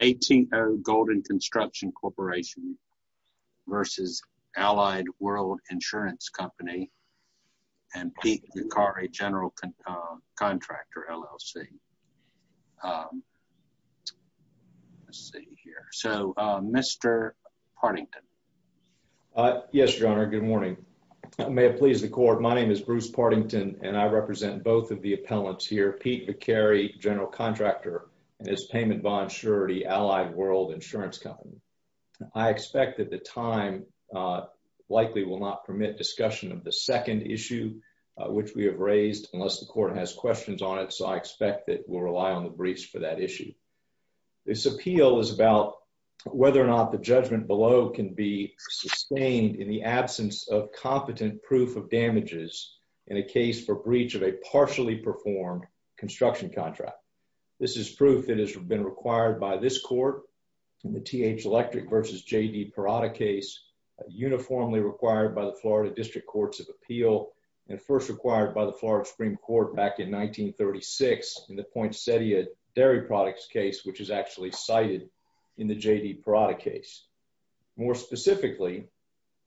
A.T.O. Golden Construction Corporation v. Allied World Insurance Company and Pete Vicari General Contractor, LLC. Let's see here, so Mr. Partington. Yes, your honor, good morning. May it please the court, my name is Bruce Partington and I represent both of the appellants here. Pete Vicari General Contractor and his payment bond surety, Allied World Insurance Company. I expect that the time likely will not permit discussion of the second issue which we have raised unless the court has questions on it, so I expect that we'll rely on the briefs for that issue. This appeal is about whether or not the judgment below can be sustained in the absence of competent proof of damages in a case for breach of a partially performed construction contract. This is proof that has been required by this court in the T.H. Electric v. J.D. Parada case, uniformly required by the Florida District Courts of Appeal and first required by the Florida Supreme Court back in 1936 in the Poinsettia Dairy Products case which is actually cited in the J.D. Parada case. More specifically,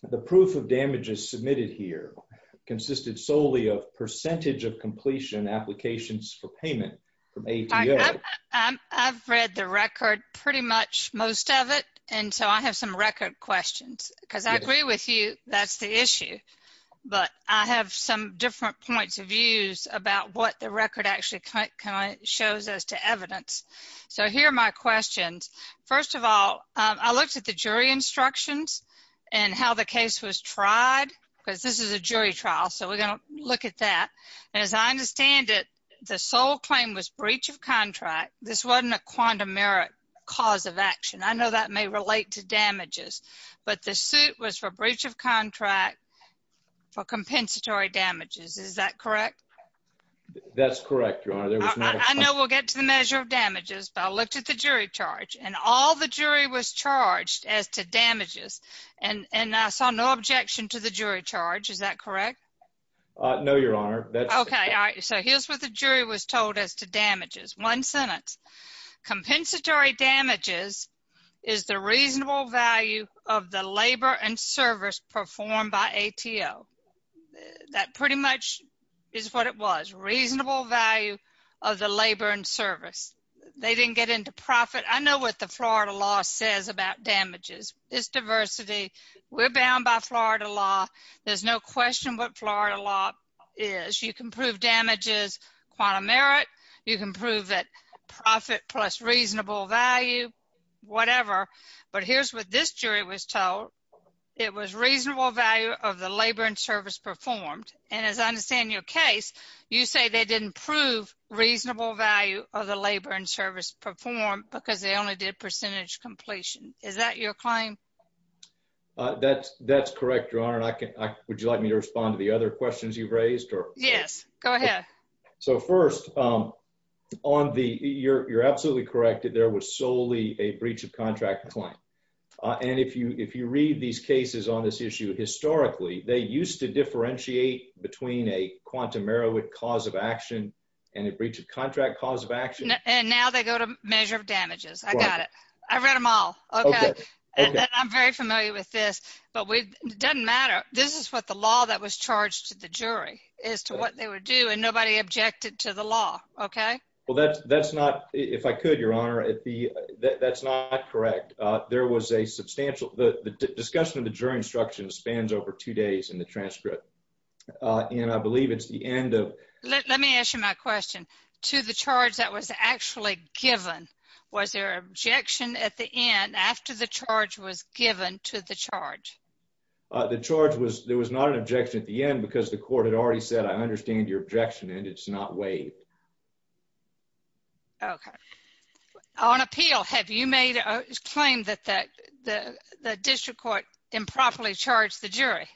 the proof of damages submitted here consisted solely of percentage of completion applications for payment from ATO. I've read the record pretty much most of it and so I have some record questions because I agree with you that's the issue, but I have some different points of views about what the record actually shows as to evidence, so here are my questions. First of all, I looked at the jury instructions and how the case was tried because this is a jury trial, so we're going to look at that. As I understand it, the sole claim was breach of contract. This wasn't a quantum merit cause of action. I know that may relate to damages, but the suit was for breach of contract for compensatory damages. Is that correct? That's correct, Your Honor. I know we'll get to the measure of damages, but I looked at the jury charge and all the jury was charged as to damages and I saw no objection to the jury charge. Is that correct? No, Your Honor. Okay, all right, so here's what the jury was told as to damages. One sentence, compensatory damages is the reasonable value of the labor and service performed by ATO. That pretty much is what it was, reasonable value of the labor and service. They didn't get into about damages. It's diversity. We're bound by Florida law. There's no question what Florida law is. You can prove damages quantum merit. You can prove that profit plus reasonable value, whatever, but here's what this jury was told. It was reasonable value of the labor and service performed, and as I understand your case, you say they didn't prove reasonable value of the percentage completion. Is that your claim? That's correct, Your Honor. Would you like me to respond to the other questions you've raised? Yes, go ahead. So first, you're absolutely correct that there was solely a breach of contract claim, and if you read these cases on this issue historically, they used to differentiate between a quantum merit cause of action and a breach of contract cause of action, and now they go to measure of damages. I got it. I read them all, okay, and I'm very familiar with this, but it doesn't matter. This is what the law that was charged to the jury is to what they would do, and nobody objected to the law, okay? Well, that's not, if I could, Your Honor, that's not correct. There was a substantial, the discussion of the jury instruction spans over two days in the transcript, and I believe it's the end of, let me ask you my question. Was there a charge that was actually given? Was there an objection at the end after the charge was given to the charge? The charge was, there was not an objection at the end because the court had already said, I understand your objection, and it's not waived. Okay. On appeal, have you made a claim that the district court improperly charged the jury?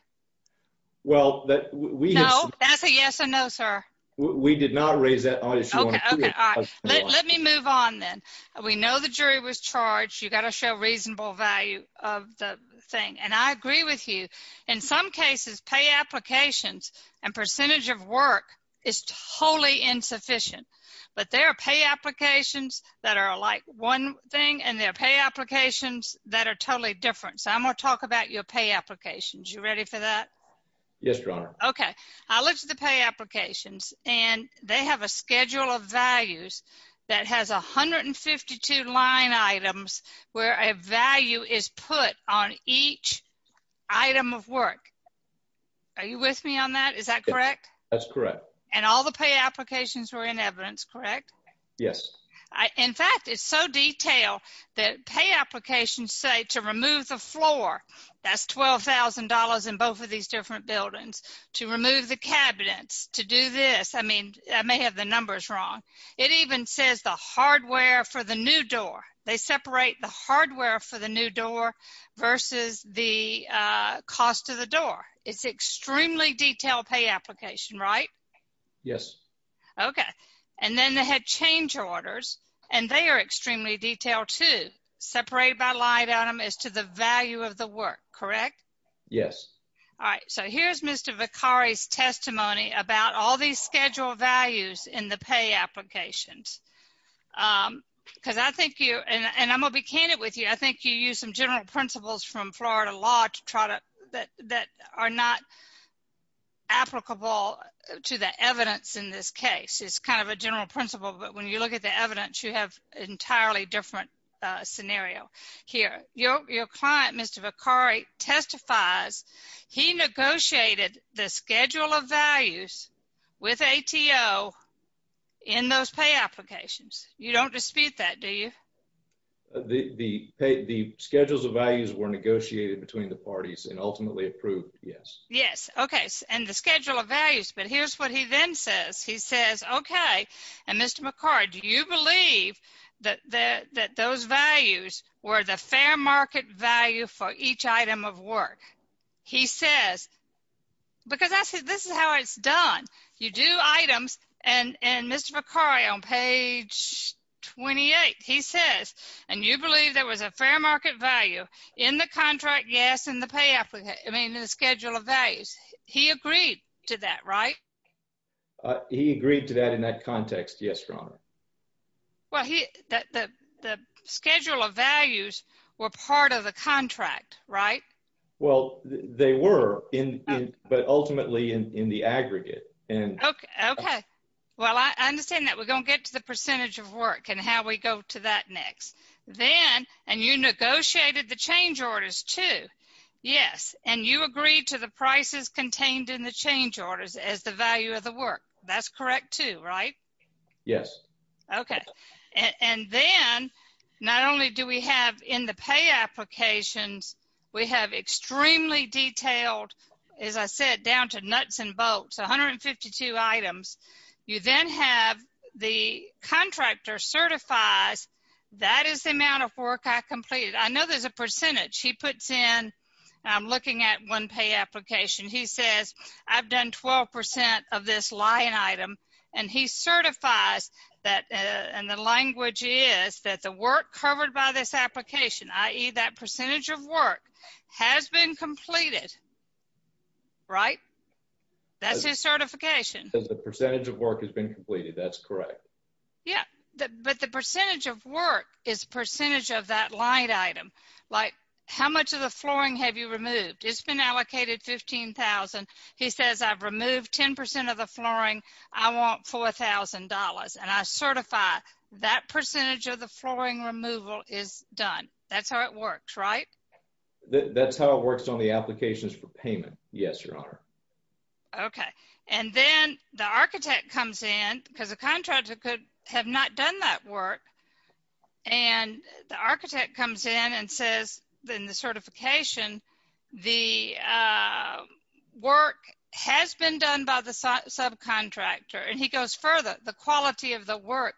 Well, that we have... No, that's a yes and no, sir. We did not raise that. Okay, all right. Let me move on then. We know the jury was charged. You got to show reasonable value of the thing, and I agree with you. In some cases, pay applications and percentage of work is wholly insufficient, but there are pay applications that are like one thing, and there are pay applications that are totally different, so I'm going to talk about your pay applications. You ready for that? Yes, your honor. Okay. I looked at the pay applications, and they have a schedule of values that has 152 line items where a value is put on each item of work. Are you with me on that? Is that correct? That's correct. And all the pay applications were in evidence, correct? Yes. In fact, it's so detailed that pay applications say to remove the floor, that's $12,000 in both of these different buildings, to remove the cabinets, to do this. I mean, I may have the numbers wrong. It even says the hardware for the new door. They separate the hardware for the new door versus the cost of the door. It's extremely detailed pay application, right? Yes. Okay. And then they had change orders, and they are extremely detailed too. Separated by line item is to the value of the work, correct? Yes. All right. So, here's Mr. Vicari's testimony about all these schedule values in the pay applications, because I think you, and I'm going to be candid with you, I think you use some general principles from Florida law to try to, that are not applicable to the evidence in this case. It's kind of a general principle, but when you look at the your client, Mr. Vicari testifies, he negotiated the schedule of values with ATO in those pay applications. You don't dispute that, do you? The schedules of values were negotiated between the parties and ultimately approved, yes. Yes. Okay. And the schedule of values, but here's what he then says. He says, okay, and Mr. Vicari, do you believe that those values were the fair market value for each item of work? He says, because this is how it's done. You do items, and Mr. Vicari on page 28, he says, and you believe there was a fair market value in the contract, yes, in the pay application, I mean in the schedule of values. He agreed to that, right? He agreed to that in that context. Yes, Your Honor. Well, the schedule of values were part of the contract, right? Well, they were, but ultimately in the aggregate. Okay. Well, I understand that. We're going to get to the percentage of work and how we go to that next. Then, and you negotiated the change orders too. Yes. And you agreed to the prices contained in the change orders as the value of the work. That's correct too, right? Yes. Okay. And then, not only do we have in the pay applications, we have extremely detailed, as I said, down to nuts and bolts, 152 items. You then have the contractor certifies, that is the amount of work I completed. I know there's a percentage. He puts in, I'm looking at one pay application. He says, I've done 12% of this line item, and he certifies that, and the language is that the work covered by this application, i.e. that percentage of work, has been completed, right? That's his certification. The percentage of work has been completed, that's correct. Yeah, but the percentage of work is percentage of that line item. Like, how much of the flooring have you removed? It's been allocated 15,000. He says, I've removed 10% of the flooring. I want $4,000, and I certify that percentage of the flooring removal is done. That's how it works, right? That's how it works on the applications for payment. Yes, Your Honor. Okay. And then, the architect comes in, because the contractor could have not done that work, and the architect comes in and says, in the certification, the work has been done by the subcontractor, and he goes further. The quality of the work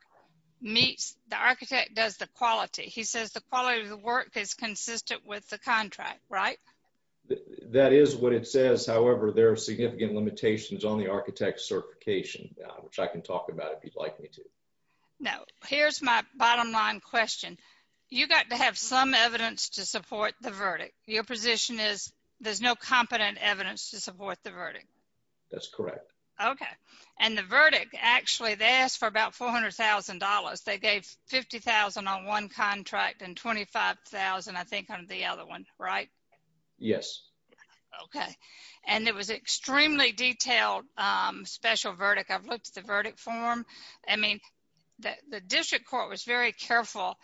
meets, the architect does the quality. He says, the quality of the work is consistent with the contract, right? That is what it says. However, there are significant limitations on the architect's certification, which I can talk about if you'd like me to. No. Here's my bottom line question. You got to have some evidence to support the verdict. Your position is, there's no competent evidence to support the verdict. That's correct. Okay. And the verdict, actually, they asked for about $400,000. They gave $50,000 on one contract and $25,000, I think, on the other one, right? Yes. Okay. And it was extremely detailed special verdict. I've looked at the verdict form. I mean, the district court was very careful,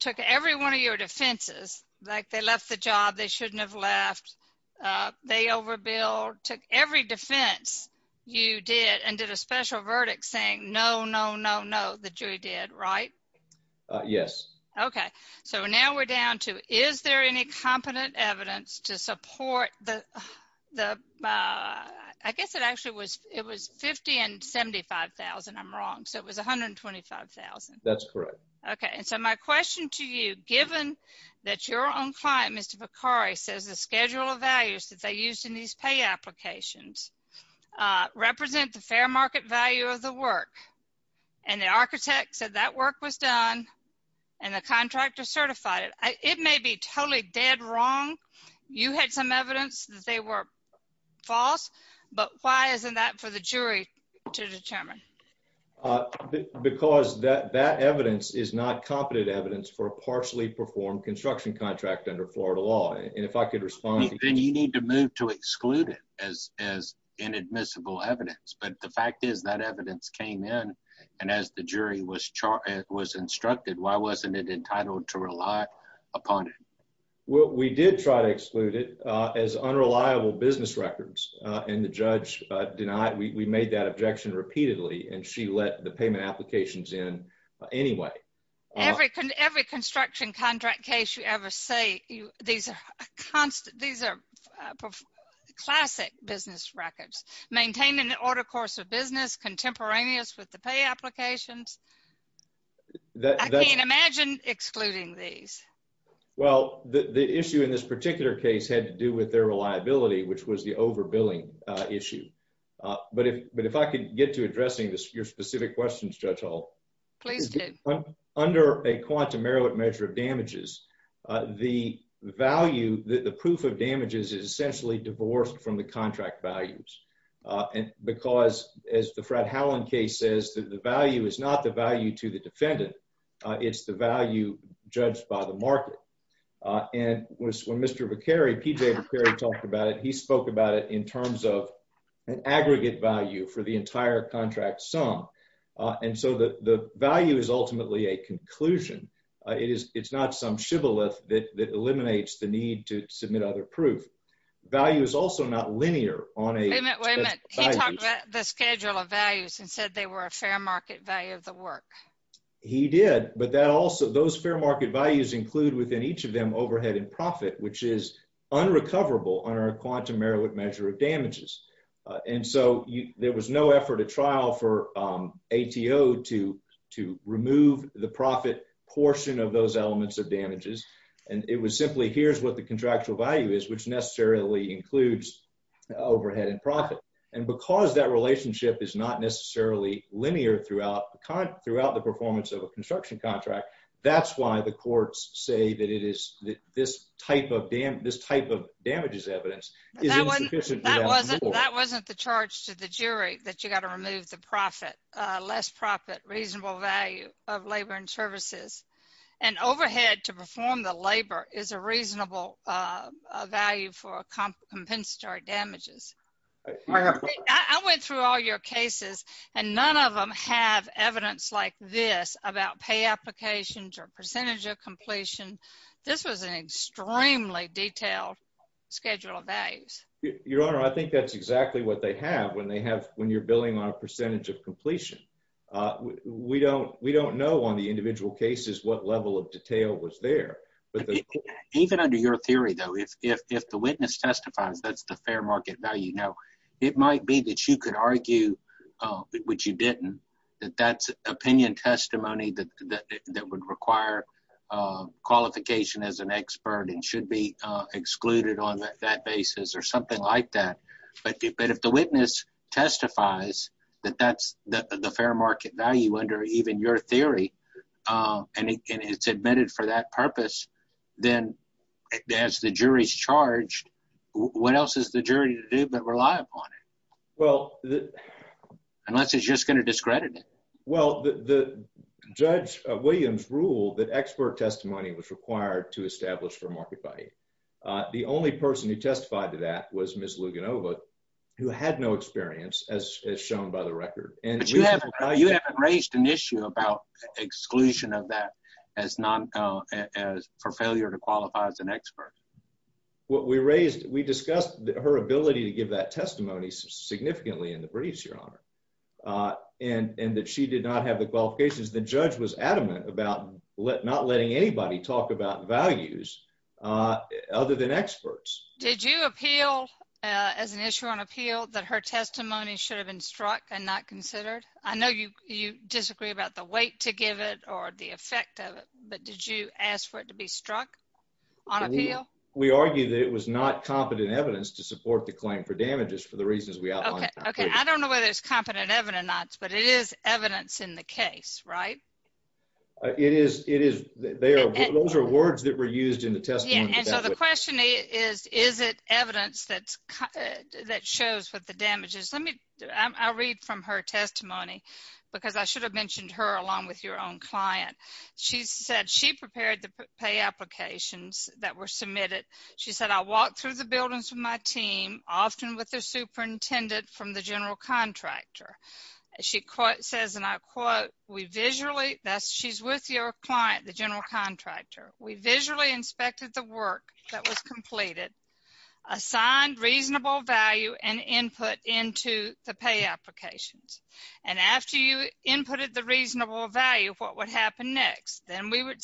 took every one of your defenses, like they left the job, they shouldn't have left, they overbilled, took every defense you did and did a special verdict saying, no, no, no, no, the jury did, right? Yes. Okay. So, now we're down to, is there any competent evidence to support the, I guess it actually was, it was $50,000 and $75,000. I'm wrong. So, it was $125,000. That's correct. Okay. And so, my question to you, given that your own client, Mr. Bakari, says the schedule of values that they used in these pay applications represent the fair market value of the work and the architect said that work was done and the contractor certified it, it may be totally dead wrong. You had some evidence that they were false, but why isn't that for the jury to determine? Because that evidence is not competent evidence for a partially performed construction contract under Florida law. And if I could respond... And you need to move to exclude it as inadmissible evidence. But the fact is that evidence came in and as the jury was instructed, why wasn't it entitled to rely upon it? Well, we did try to exclude it as unreliable business records and the judge denied, we made that objection repeatedly and she let the payment applications in anyway. Every construction contract case you ever say, these are classic business records. Maintaining the order course of business contemporaneous with the pay applications. I can't imagine excluding these. Well, the issue in this particular case had to do with their reliability, which was the overbilling issue. But if I could get to addressing your specific questions, Judge Hall. Please do. Under a quantum error measure of damages, the value, the proof of damages is essentially divorced from the contract values. And because as the Fred Howland case says, the value is not the value to the defendant. It's the value judged by the market. And when Mr. Vacari, P.J. Vacari talked about it, he spoke about it in terms of an aggregate value for the entire contract sum. And so the value is ultimately a conclusion. It's not some shibboleth that value is also not linear on a... Wait a minute. He talked about the schedule of values and said they were a fair market value of the work. He did. But that also, those fair market values include within each of them overhead and profit, which is unrecoverable under a quantum error measure of damages. And so there was no effort at trial for ATO to remove the profit portion of those elements of damages. And it was simply, here's what the contractual value is, which necessarily includes overhead and profit. And because that relationship is not necessarily linear throughout the performance of a construction contract, that's why the courts say that this type of damages evidence is insufficient. That wasn't the charge to the jury that you got to remove the profit, less profit, reasonable value of labor and services. And overhead to perform the labor is a reasonable value for compensatory damages. I went through all your cases and none of them have evidence like this about pay applications or percentage of completion. This was an extremely detailed schedule of values. Your Honor, I think that's exactly what they have when they have, when you're billing on a percentage of completion. We don't know on the individual cases what level of detail was there. Even under your theory though, if the witness testifies, that's the fair market value. Now, it might be that you could argue, which you didn't, that that's opinion testimony that would require qualification as an expert and should be excluded on that basis or something like that. But if the witness testifies that that's the fair market value under even your theory and it's admitted for that purpose, then as the jury's charged, what else is the jury to do but rely upon it? Unless it's just going to discredit it. Well, Judge Williams ruled that expert testimony was required to establish for market value. The only person who testified to that was Ms. Luganova, who had no experience as shown by the record. But you haven't raised an issue about exclusion of that for failure to qualify as an expert. What we raised, we discussed her ability to give that testimony significantly in the briefs, Your Honor, and that she did not have the qualifications. The judge was adamant about not letting anybody talk about values other than experts. Did you appeal as an issue on appeal that her testimony should have been struck and not considered? I know you disagree about the weight to give it or the effect of it, but did you ask for it to be struck on appeal? We argue that it was not competent evidence to support the claim for damages for the reasons we outlined. Okay, I don't know whether it's competent evidence or not, but it is evidence in the case, right? It is. Those are words that were used in the testimony. Yeah, and so the question is, is it evidence that shows what the damage is? Let me, I'll read from her testimony because I should have mentioned her along with your own client. She said she prepared the pay applications that were submitted. She said, I walked through the buildings with my team, often with their superintendent from the general contractor. She says, and I quote, we visually, that's, she's with your client, the general contractor. We visually inspected the work that was completed, assigned reasonable value and input into the pay applications. And after you inputted the reasonable value, what would happen next? Then we would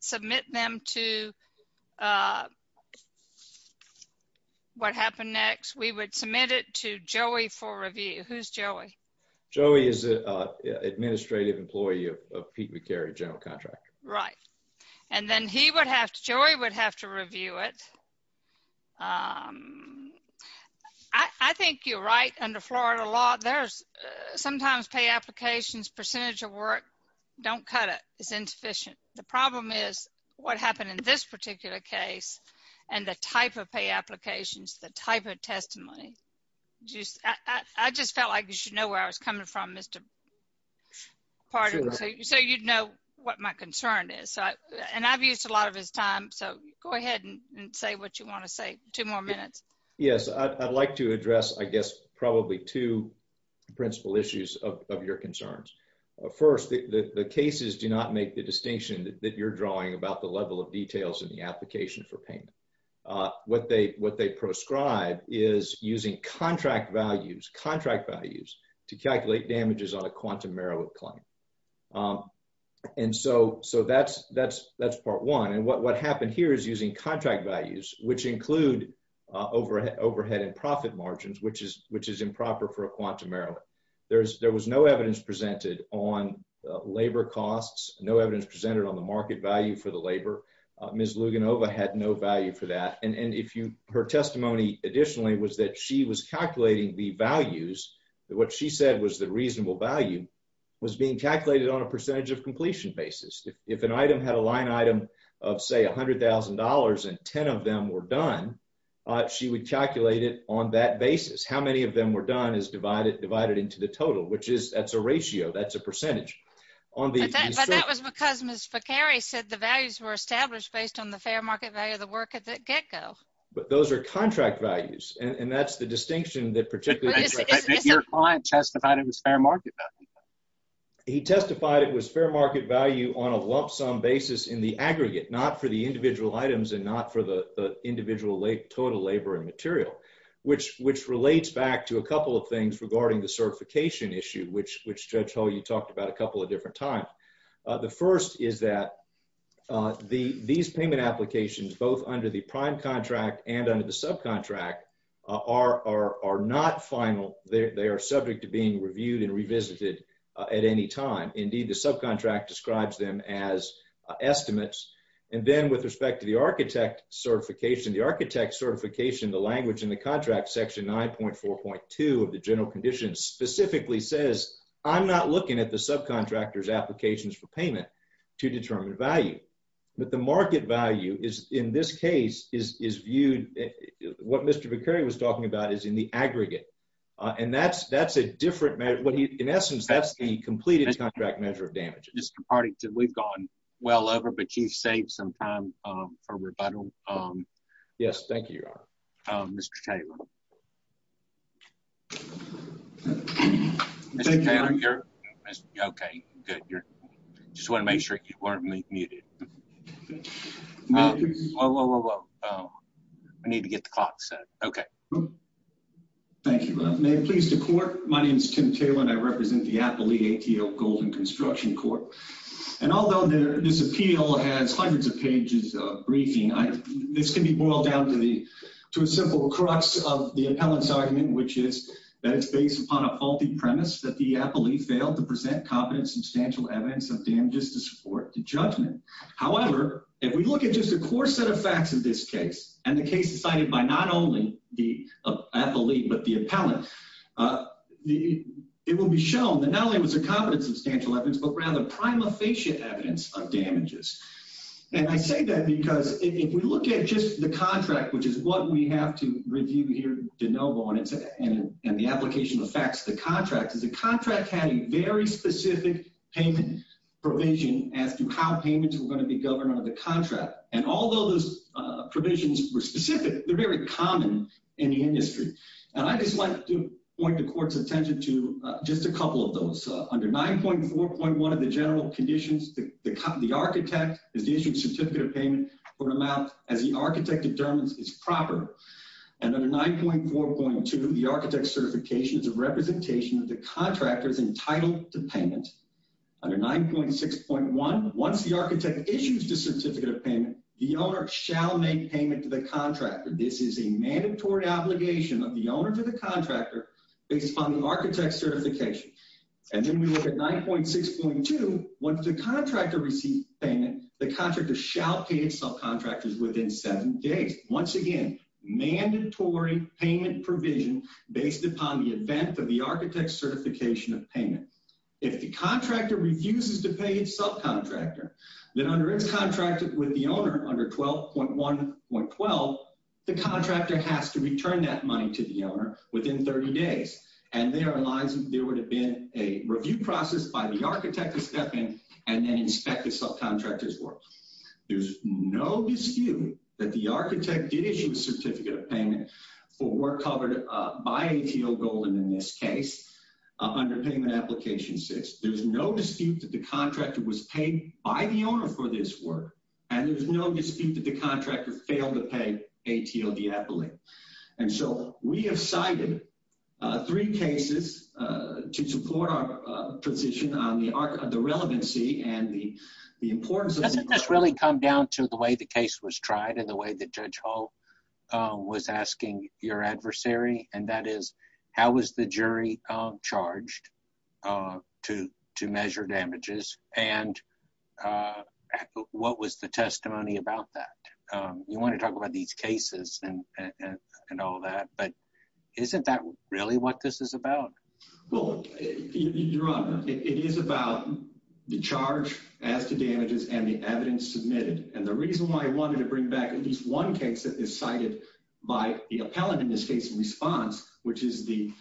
submit them to, what happened next? We would submit it to Joey for review. Who's Joey? Joey is an administrative employee of Pete McCary, general contractor. Right, and then he would have, Joey would have to review it. I think you're right under Florida law, there's sometimes pay applications, percentage of work, don't cut it, it's insufficient. The problem is what happened in this particular case and the type of pay applications, the type of testimony, just, I just felt like you know where I was coming from, Mr. Pardon, so you'd know what my concern is. So, and I've used a lot of his time, so go ahead and say what you want to say, two more minutes. Yes, I'd like to address, I guess, probably two principal issues of your concerns. First, the cases do not make the distinction that you're drawing about the level of details in the application for payment. What they proscribe is using contract values, contract values to calculate damages on a quantum merit claim, and so that's part one, and what happened here is using contract values, which include overhead and profit margins, which is improper for a quantum merit. There was no evidence presented on labor costs, no evidence presented on the market value for the labor. Ms. Luganova had no value for that, and if you, her testimony additionally was that she was calculating the values, what she said was the reasonable value was being calculated on a percentage of completion basis. If an item had a line item of say a hundred thousand dollars and ten of them were done, she would calculate it on that basis. How many of them were done is divided into the total, which is, that's a ratio, that's a ratio. Mr. McCary said the values were established based on the fair market value of the work at the get-go. But those are contract values, and that's the distinction that particularly... He testified it was fair market value on a lump sum basis in the aggregate, not for the individual items and not for the individual total labor and material, which relates back to a couple of things regarding the certification issue, which Judge Hull, you talked about a The first is that these payment applications, both under the prime contract and under the subcontract, are not final. They are subject to being reviewed and revisited at any time. Indeed, the subcontract describes them as estimates. And then with respect to the architect certification, the architect certification, the language in the contract section 9.4.2 of the general condition specifically says, I'm not looking at the subcontractor's applications for payment to determine value. But the market value is, in this case, is viewed, what Mr. McCary was talking about, is in the aggregate. And that's a different measure. In essence, that's the completed contract measure of damage. Mr. Partington, we've gone well over, but you've Mr. Taylor, you're okay. Good. I just want to make sure you weren't muted. Whoa, whoa, whoa, whoa. I need to get the clock set. Okay. Thank you. May it please the court. My name is Tim Taylor, and I represent the Appley ATO Golden Construction Corp. And although this appeal has hundreds of pages of briefing, this can be boiled down to a simple crux of the faulty premise that the appellee failed to present competent substantial evidence of damages to support the judgment. However, if we look at just a core set of facts in this case, and the case is cited by not only the appellee, but the appellant, it will be shown that not only was there competent substantial evidence, but rather prima facie evidence of damages. And I say that because if we look at just the contract, which is what we have to review here de novo, and the application of the facts of the contract, is the contract had a very specific payment provision as to how payments were going to be governed under the contract. And although those provisions were specific, they're very common in the industry. And I just want to point the court's attention to just a couple of those. Under 9.4.1 of the general conditions, the architect is issued a certificate of payment for an amount as the architect determines is proper. And under 9.4.2, the architect's certification is a representation of the contractor's entitled to payment. Under 9.6.1, once the architect issues the certificate of payment, the owner shall make payment to the contractor. This is a mandatory obligation of the owner to the contractor based upon the architect's certification. And then we look at 9.6.2, once the contractor receives payment, the contractor shall pay its subcontractors within seven days. Once again, mandatory payment provision based upon the event of the architect's certification of payment. If the contractor refuses to pay its subcontractor, then under its contract with the owner under 12.1.12, the contractor has to return that money to the owner within 30 days. And there would have been a review process by the architect to step in and then inspect the subcontractor's work. There's no dispute that the architect did issue a certificate of payment for work covered by ATO Golden in this case, under payment application six. There's no dispute that the contractor was paid by the owner for this work. And there's no dispute that the contractor failed to pay ATO Diepoli. And so we have cited three cases to support our position on the arc of the relevancy and the importance of... Doesn't this really come down to the way the case was tried and the way that Judge Hull was asking your adversary, and that is, how was the jury charged to measure damages? And what was the testimony about that? You want to talk about these cases and all that, but isn't that really what this is about? Well, Your Honor, it is about the charge as to damages and the evidence submitted. And the reason why I wanted to bring back at least one case that is cited by the appellant in this case in response, which is the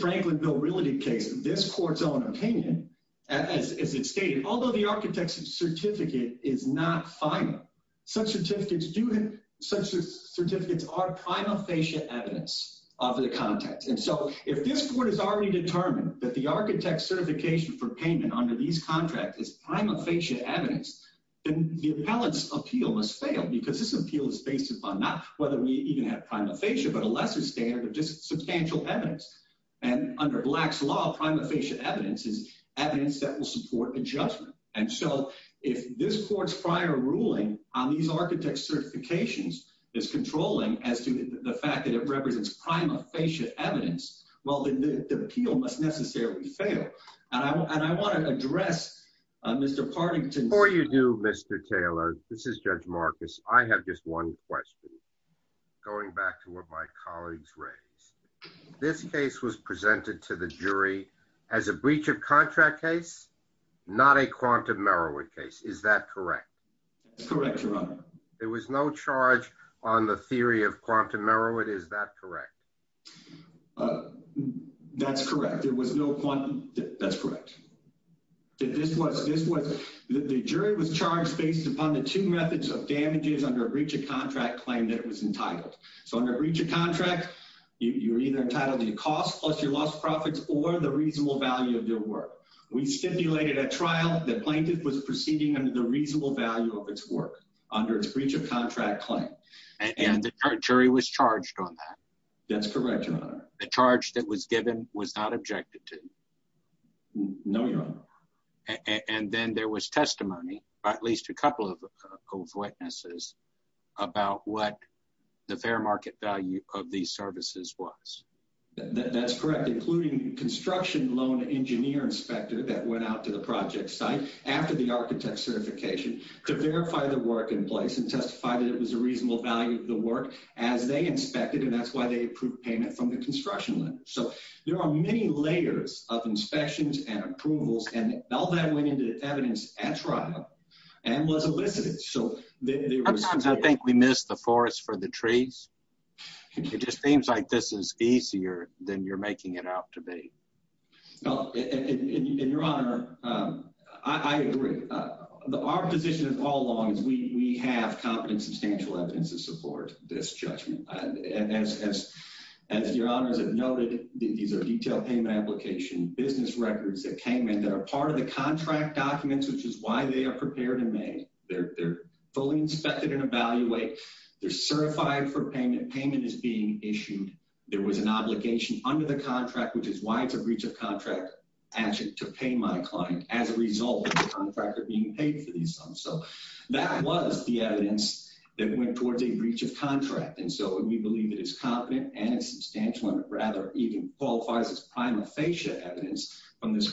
Franklin Bill case, this court's own opinion, as it stated, although the architect's certificate is not final, such certificates are prima facie evidence of the context. And so if this court has already determined that the architect's certification for payment under these contracts is prima facie evidence, then the appellant's appeal must fail because this appeal is based upon not whether we prima facie evidence is evidence that will support the judgment. And so if this court's prior ruling on these architect's certifications is controlling as to the fact that it represents prima facie evidence, well, then the appeal must necessarily fail. And I want to address Mr. Partington... Before you do, Mr. Taylor, this is Judge Marcus. I have just one question going back to what my as a breach of contract case, not a quantum Merowith case. Is that correct? That's correct, Your Honor. There was no charge on the theory of quantum Merowith. Is that correct? That's correct. There was no quantum... That's correct. The jury was charged based upon the two methods of damages under a breach of contract claim that it was entitled. So under breach of contract, you're either entitled to the cost plus your profits or the reasonable value of your work. We stipulated at trial that plaintiff was proceeding under the reasonable value of its work under its breach of contract claim. And the jury was charged on that? That's correct, Your Honor. The charge that was given was not objected to? No, Your Honor. And then there was testimony by at least a couple of witnesses about what the fair market value of these services was? That's correct, including construction loan engineer inspector that went out to the project site after the architect certification to verify the work in place and testify that it was a reasonable value of the work as they inspected. And that's why they approved payment from the construction loan. So there are many layers of inspections and approvals. And all that went into evidence at trial and was elicited. I think we missed the forest for the trees. It just seems like this is easier than you're making it out to be. No, and Your Honor, I agree. Our position all along is we have competent substantial evidence to support this judgment. And as Your Honor has noted, these are detailed payment application business records that came in that are part of the contract documents, which is why they are prepared and made. They're fully inspected and evaluate. They're certified for payment. Payment is being issued. There was an obligation under the contract, which is why it's a breach of contract action to pay my client as a result of the contractor being paid for these sums. So that was the evidence that went towards a breach of contract. And so we believe it is competent and substantial and rather even qualifies as prima facie evidence from this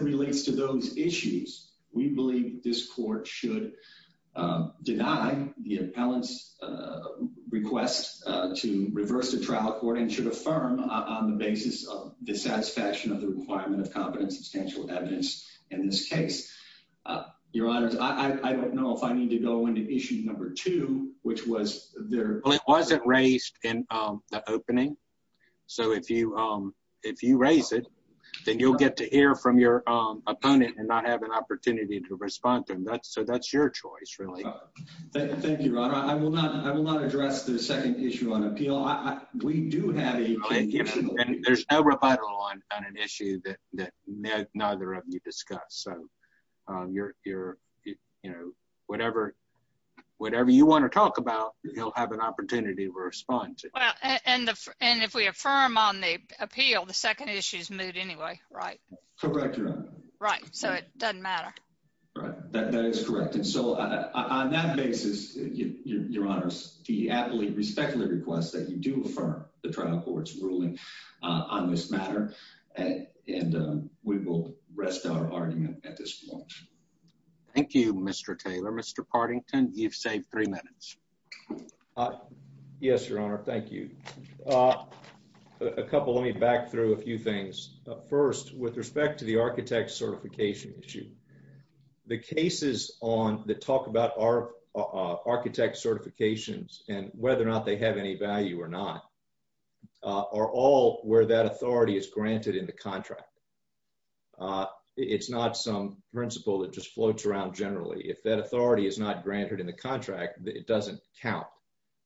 relates to those issues. We believe this court should deny the appellant's request to reverse the trial court and should affirm on the basis of the satisfaction of the requirement of competent substantial evidence in this case. Your Honor, I don't know if I need to go into issue number two, which was there. It wasn't raised in the opening. So if you if you raise it, then you'll get to hear from your opponent and not have an opportunity to respond to him. That's so that's your choice, really. Thank you, Your Honor. I will not. I will not address the second issue on appeal. We do have a there's no rebuttal on an issue that neither of you discussed. So you're you're, you know, whatever, whatever you want to talk about, you'll have an opportunity to respond to it. And if we affirm on the appeal, the second issue is moved anyway, right? Correct. Right. So it doesn't matter. Right. That is correct. And so on that basis, Your Honor, I respectfully request that you do affirm the trial court's ruling on this matter. And we will rest our argument at this point. Thank you, Mr. Taylor. Mr. Partington, you've saved three minutes. Yes, Your Honor. Thank you. A couple of me back through a few things. First, with respect to the architect certification issue, the cases on the talk about our architect certifications, and whether or not they have any value or not, are all where that authority is granted in the contract. It's not some principle that just granted in the contract that it doesn't count.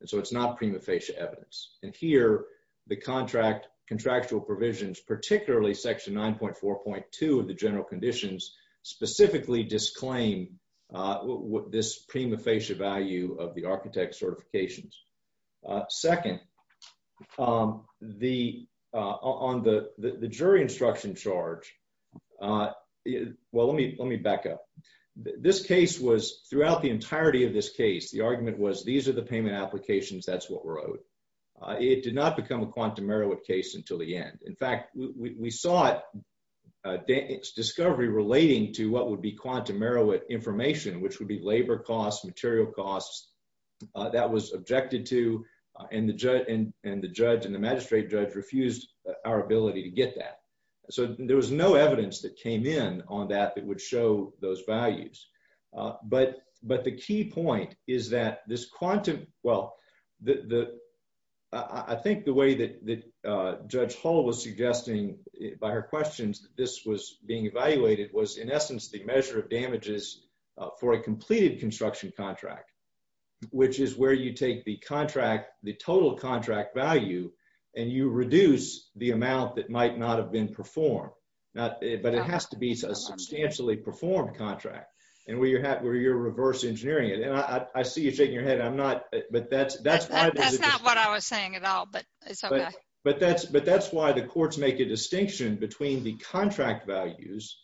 And so it's not prima facie evidence. And here, the contract contractual provisions, particularly section 9.4.2 of the general conditions, specifically disclaim what this prima facie value of the architect certifications. Second, the on the jury instruction charge. Well, let me let me back up. This case was throughout the entirety of this case, the argument was, these are the payment applications. That's what we're owed. It did not become a quantum Merowith case until the end. In fact, we saw it discovery relating to what would be quantum Merowith information, which would be labor costs, material costs that was objected to, and the judge and the magistrate judge refused our ability to get that. So there was no evidence that came in on that that would show those values. But the key point is that this quantum, well, I think the way that Judge Hull was suggesting by her questions that this was being evaluated was, in essence, the measure of damages for a completed construction contract, which is where you take the contract, the total contract value, and you reduce the amount that might not have been performed. But it has to be a substantially performed contract and where you're where you're reverse engineering it. And I see you shaking your head. I'm not. But that's that's that's not what I was saying at all. But but that's but that's why the courts make a distinction between the contract values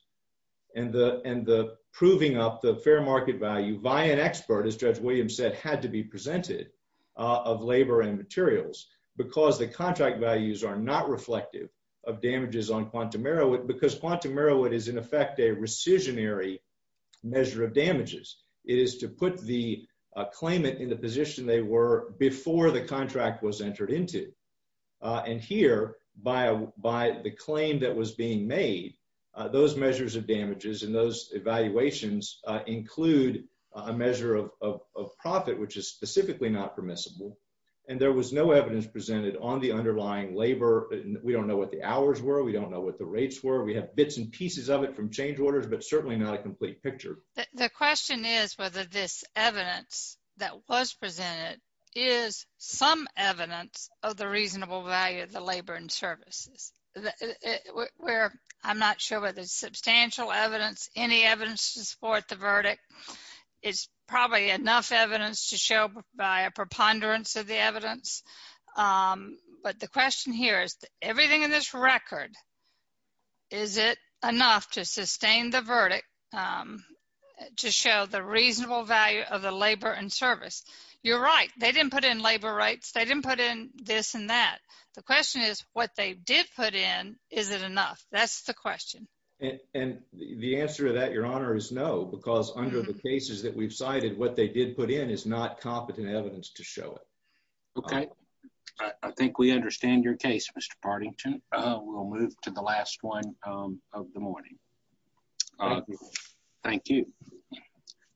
and the and the proving up the fair market value by an expert, as Judge Williams said, had to be presented of labor and materials because the contract values are not reflective of damages on quantum Merowith because quantum Merowith is, in effect, a rescissionary measure of damages. It is to put the claimant in the position they were before the contract was entered into. And here, by by the claim that was being made, those measures of damages and those evaluations include a measure of of profit, which is specifically not permissible. And there was no evidence presented on the underlying labor. We don't know what the hours were. We don't know what the rates were. We have bits and pieces of it from change orders, but certainly not a complete picture. The question is whether this evidence that was presented is some evidence of the reasonable value of the labor and services where I'm not sure whether it's substantial evidence, any evidence to support the verdict is probably enough evidence to show by a preponderance of the evidence. But the question here is, everything in this record, is it enough to sustain the verdict to show the reasonable value of the labor and service? You're right. They didn't put in labor rights. They didn't put in this and that. The question is, what they did put in, is it enough? That's the question. And the answer to that, Your Honor, is no, because under the cases that we've in is not competent evidence to show it. Okay. I think we understand your case, Mr. Partington. We'll move to the last one of the morning. Thank you.